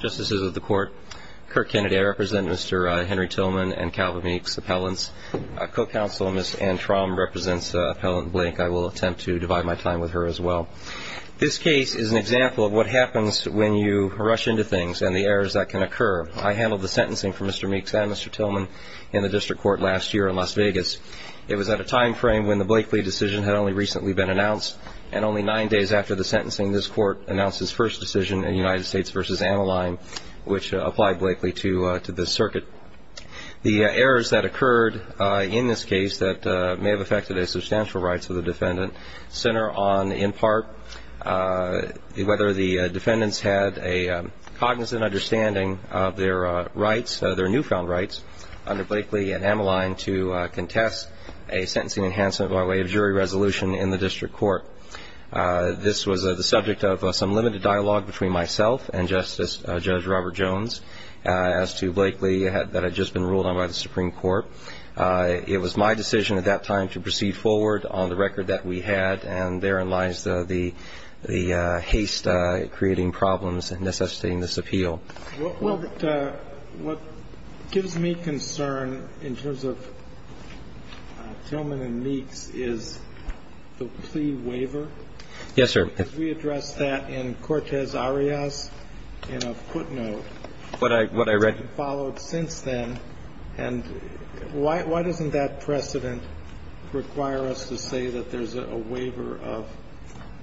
Justice of the Court, Kirk Kennedy, I represent Mr. Henry Tillman and Calvin Meeks, appellants. A co-counsel, Ms. Anne Tromm, represents Appellant Blank. I will attempt to divide my time with her as well. This case is an example of what happens when you rush into things and the errors that can occur. I handled the sentencing for Mr. Meeks and Mr. Tillman in the District Court last year in Las Vegas. It was at a time frame when the Blakely decision had only recently been announced, and only nine days after the sentencing, this Court announced its first decision in United States v. Ammaline, which applied Blakely to this circuit. The errors that occurred in this case that may have affected a substantial rights of the defendant center on, in part, whether the defendants had a cognizant understanding of their rights, their newfound rights, under Blakely and Ammaline to contest a sentencing enhancement by way of jury resolution in the District Court. This was the subject of some limited dialogue between myself and Justice, Judge Robert Jones, as to Blakely that had just been ruled on by the Supreme Court. It was my decision at that time to proceed forward on the record that we had, and therein lies the haste creating problems and necessitating this appeal. Well, what gives me concern in terms of Tillman and Meeks is the plea waiver. Yes, sir. Because we addressed that in Cortez-Arias in a footnote. What I read. And followed since then. And why doesn't that precedent require us to say that there's a waiver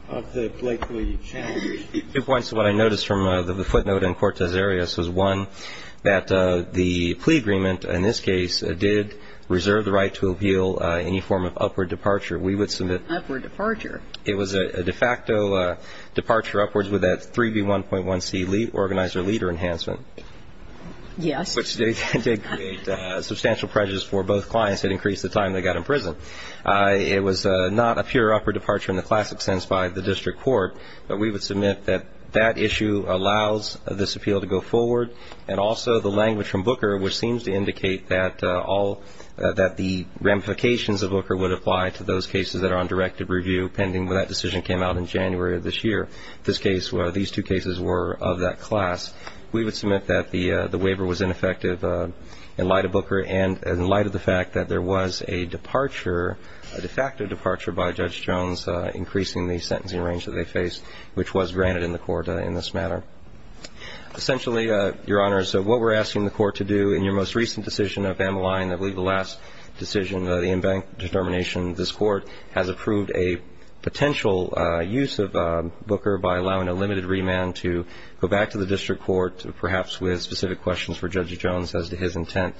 of the Blakely challenge? Two points to what I noticed from the footnote in Cortez-Arias was, one, that the plea agreement in this case did reserve the right to appeal any form of upward departure. We would submit. Upward departure. It was a de facto departure upwards with that 3B1.1C organizer leader enhancement. Yes. Which did create substantial prejudice for both clients. It increased the time they got in prison. It was not a pure upward departure in the classic sense by the District Court. But we would submit that that issue allows this appeal to go forward. And also the language from Booker, which seems to indicate that all that the ramifications of Booker would apply to those cases that are on directive review pending when that decision came out in January of this year. This case, these two cases were of that class. We would submit that the waiver was ineffective in light of Booker and in light of the fact that there was a departure, a de facto departure by Judge Jones increasing the sentencing range that they faced, which was granted in the court in this matter. Essentially, Your Honors, what we're asking the court to do in your most recent decision of Amaline, I believe the last decision, the embankment determination, this court has approved a potential use of Booker by allowing a limited remand to go back to the District Court, perhaps with specific questions for Judge Jones as to his intent.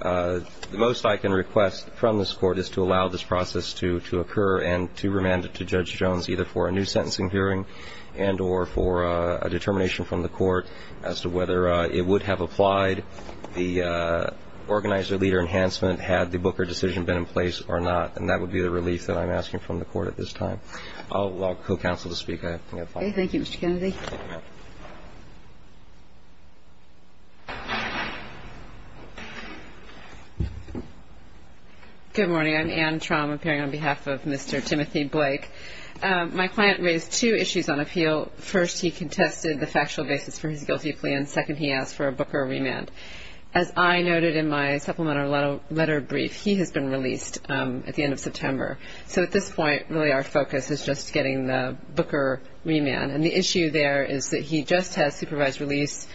The most I can request from this court is to allow this process to occur and to remand it to Judge Jones either for a new sentencing hearing and or for a determination from the court as to whether it would have applied, the organizer-leader enhancement had the Booker decision been in place or not. And that would be the relief that I'm asking from the court at this time. I'll call counsel to speak. Thank you, Mr. Kennedy. Good morning. I'm Anne Traum, appearing on behalf of Mr. Timothy Blake. My client raised two issues on appeal. First, he contested the factual basis for his guilty plea, and second, he asked for a Booker remand. As I noted in my supplemental letter brief, he has been released at the end of September. So at this point, really our focus is just getting the Booker remand. The other issue there is that he just has supervised release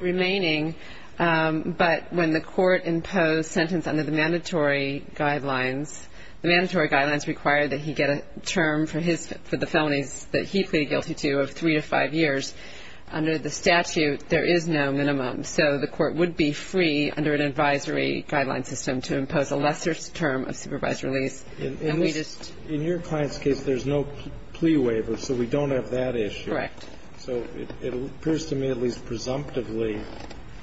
remaining, but when the court imposed sentence under the mandatory guidelines, the mandatory guidelines require that he get a term for the felonies that he pleaded guilty to of three to five years. Under the statute, there is no minimum, so the court would be free under an advisory guideline system to impose a lesser term of supervised release. In your client's case, there's no plea waiver, so we don't have that issue. Correct. So it appears to me at least presumptively,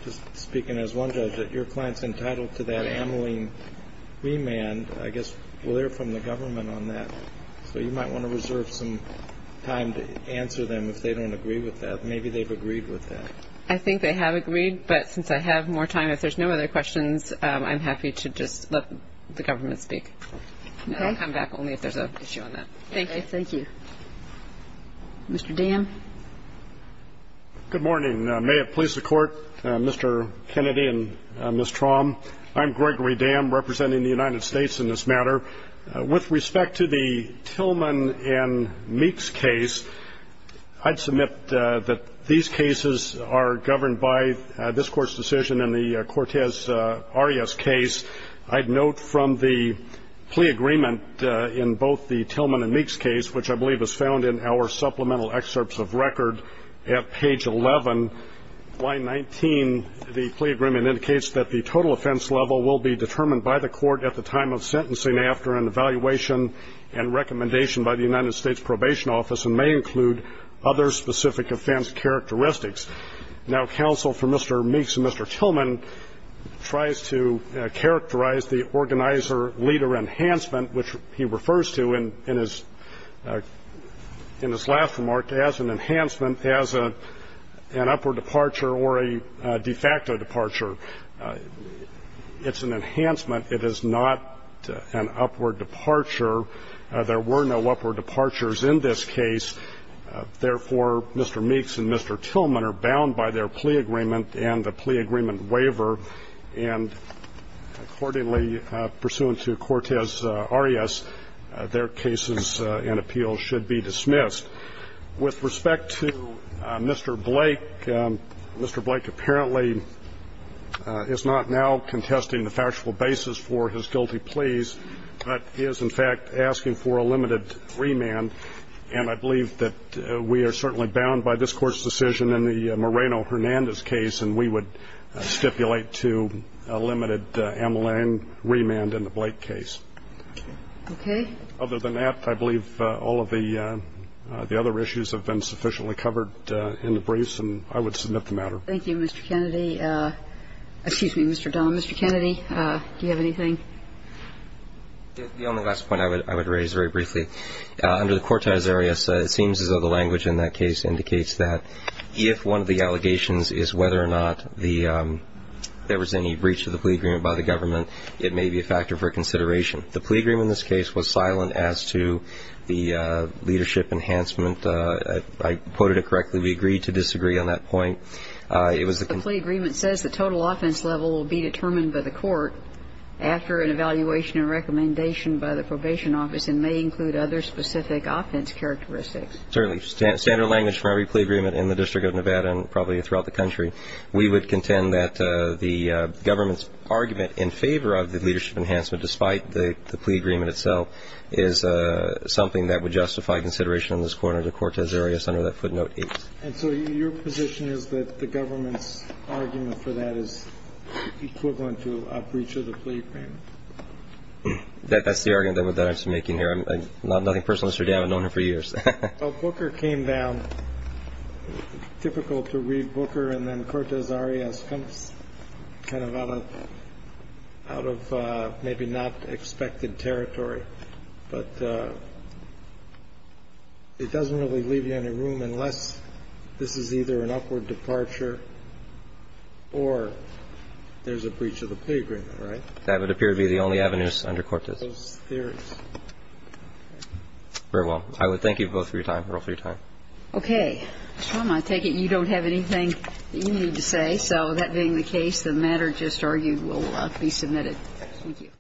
just speaking as one judge, that your client's entitled to that amyling remand. I guess we'll hear from the government on that, so you might want to reserve some time to answer them if they don't agree with that. Maybe they've agreed with that. I think they have agreed, but since I have more time, if there's no other questions, I'm happy to just let the government speak. I'll come back only if there's an issue on that. Thank you. Thank you. Mr. Dam? Good morning. May it please the Court, Mr. Kennedy and Ms. Traum. I'm Gregory Dam, representing the United States in this matter. With respect to the Tillman and Meeks case, I'd submit that these cases are governed by this Court's decision in the Cortez Arias case. I'd note from the plea agreement in both the Tillman and Meeks case, which I believe is found in our supplemental excerpts of record at page 11, line 19, the plea agreement indicates that the total offense level will be determined by the Court at the time of sentencing after an evaluation and recommendation by the United States Probation Office and may include other specific offense characteristics. Now, counsel for Mr. Meeks and Mr. Tillman tries to characterize the organizer-leader enhancement, which he refers to in his last remark as an enhancement, as an upward departure or a de facto departure. It's an enhancement. It is not an upward departure. There were no upward departures in this case. Therefore, Mr. Meeks and Mr. Tillman are bound by their plea agreement and the plea agreement waiver, and accordingly, pursuant to Cortez Arias, their cases and appeals should be dismissed. With respect to Mr. Blake, Mr. Blake apparently is not now contesting the factual basis for his guilty pleas, but is, in fact, asking for a limited remand. And I believe that we are certainly bound by this Court's decision in the Moreno-Hernandez case, and we would stipulate to a limited amulet remand in the Blake case. Okay. Other than that, I believe all of the other issues have been sufficiently covered in the briefs, and I would submit the matter. Thank you, Mr. Kennedy. Excuse me, Mr. Dunn. Mr. Kennedy, do you have anything? The only last point I would raise very briefly. Under the Cortez Arias, it seems as though the language in that case indicates that if one of the allegations is whether or not there was any breach of the plea agreement by the government, it may be a factor for consideration. The plea agreement in this case was silent as to the leadership enhancement. If I quoted it correctly, we agreed to disagree on that point. The plea agreement says the total offense level will be determined by the court after an evaluation and recommendation by the probation office and may include other specific offense characteristics. Certainly. Standard language for every plea agreement in the District of Nevada and probably throughout the country. We would contend that the government's argument in favor of the leadership enhancement, despite the plea agreement itself, is something that would justify consideration in this court under the Cortez Arias under that footnote 8. And so your position is that the government's argument for that is equivalent to a breach of the plea agreement? That's the argument that I'm making here. Nothing personal, Mr. Dunn. I've known her for years. Well, Booker came down. Typical to read Booker and then Cortez Arias comes kind of out of maybe not expected territory. But it doesn't really leave you any room unless this is either an upward departure or there's a breach of the plea agreement, right? That would appear to be the only avenues under Cortez. Those theories. Very well. I would thank you both for your time. Roll for your time. Okay. Mr. Dunn, I take it you don't have anything that you need to say. So that being the case, the matter just argued will be submitted. Thank you.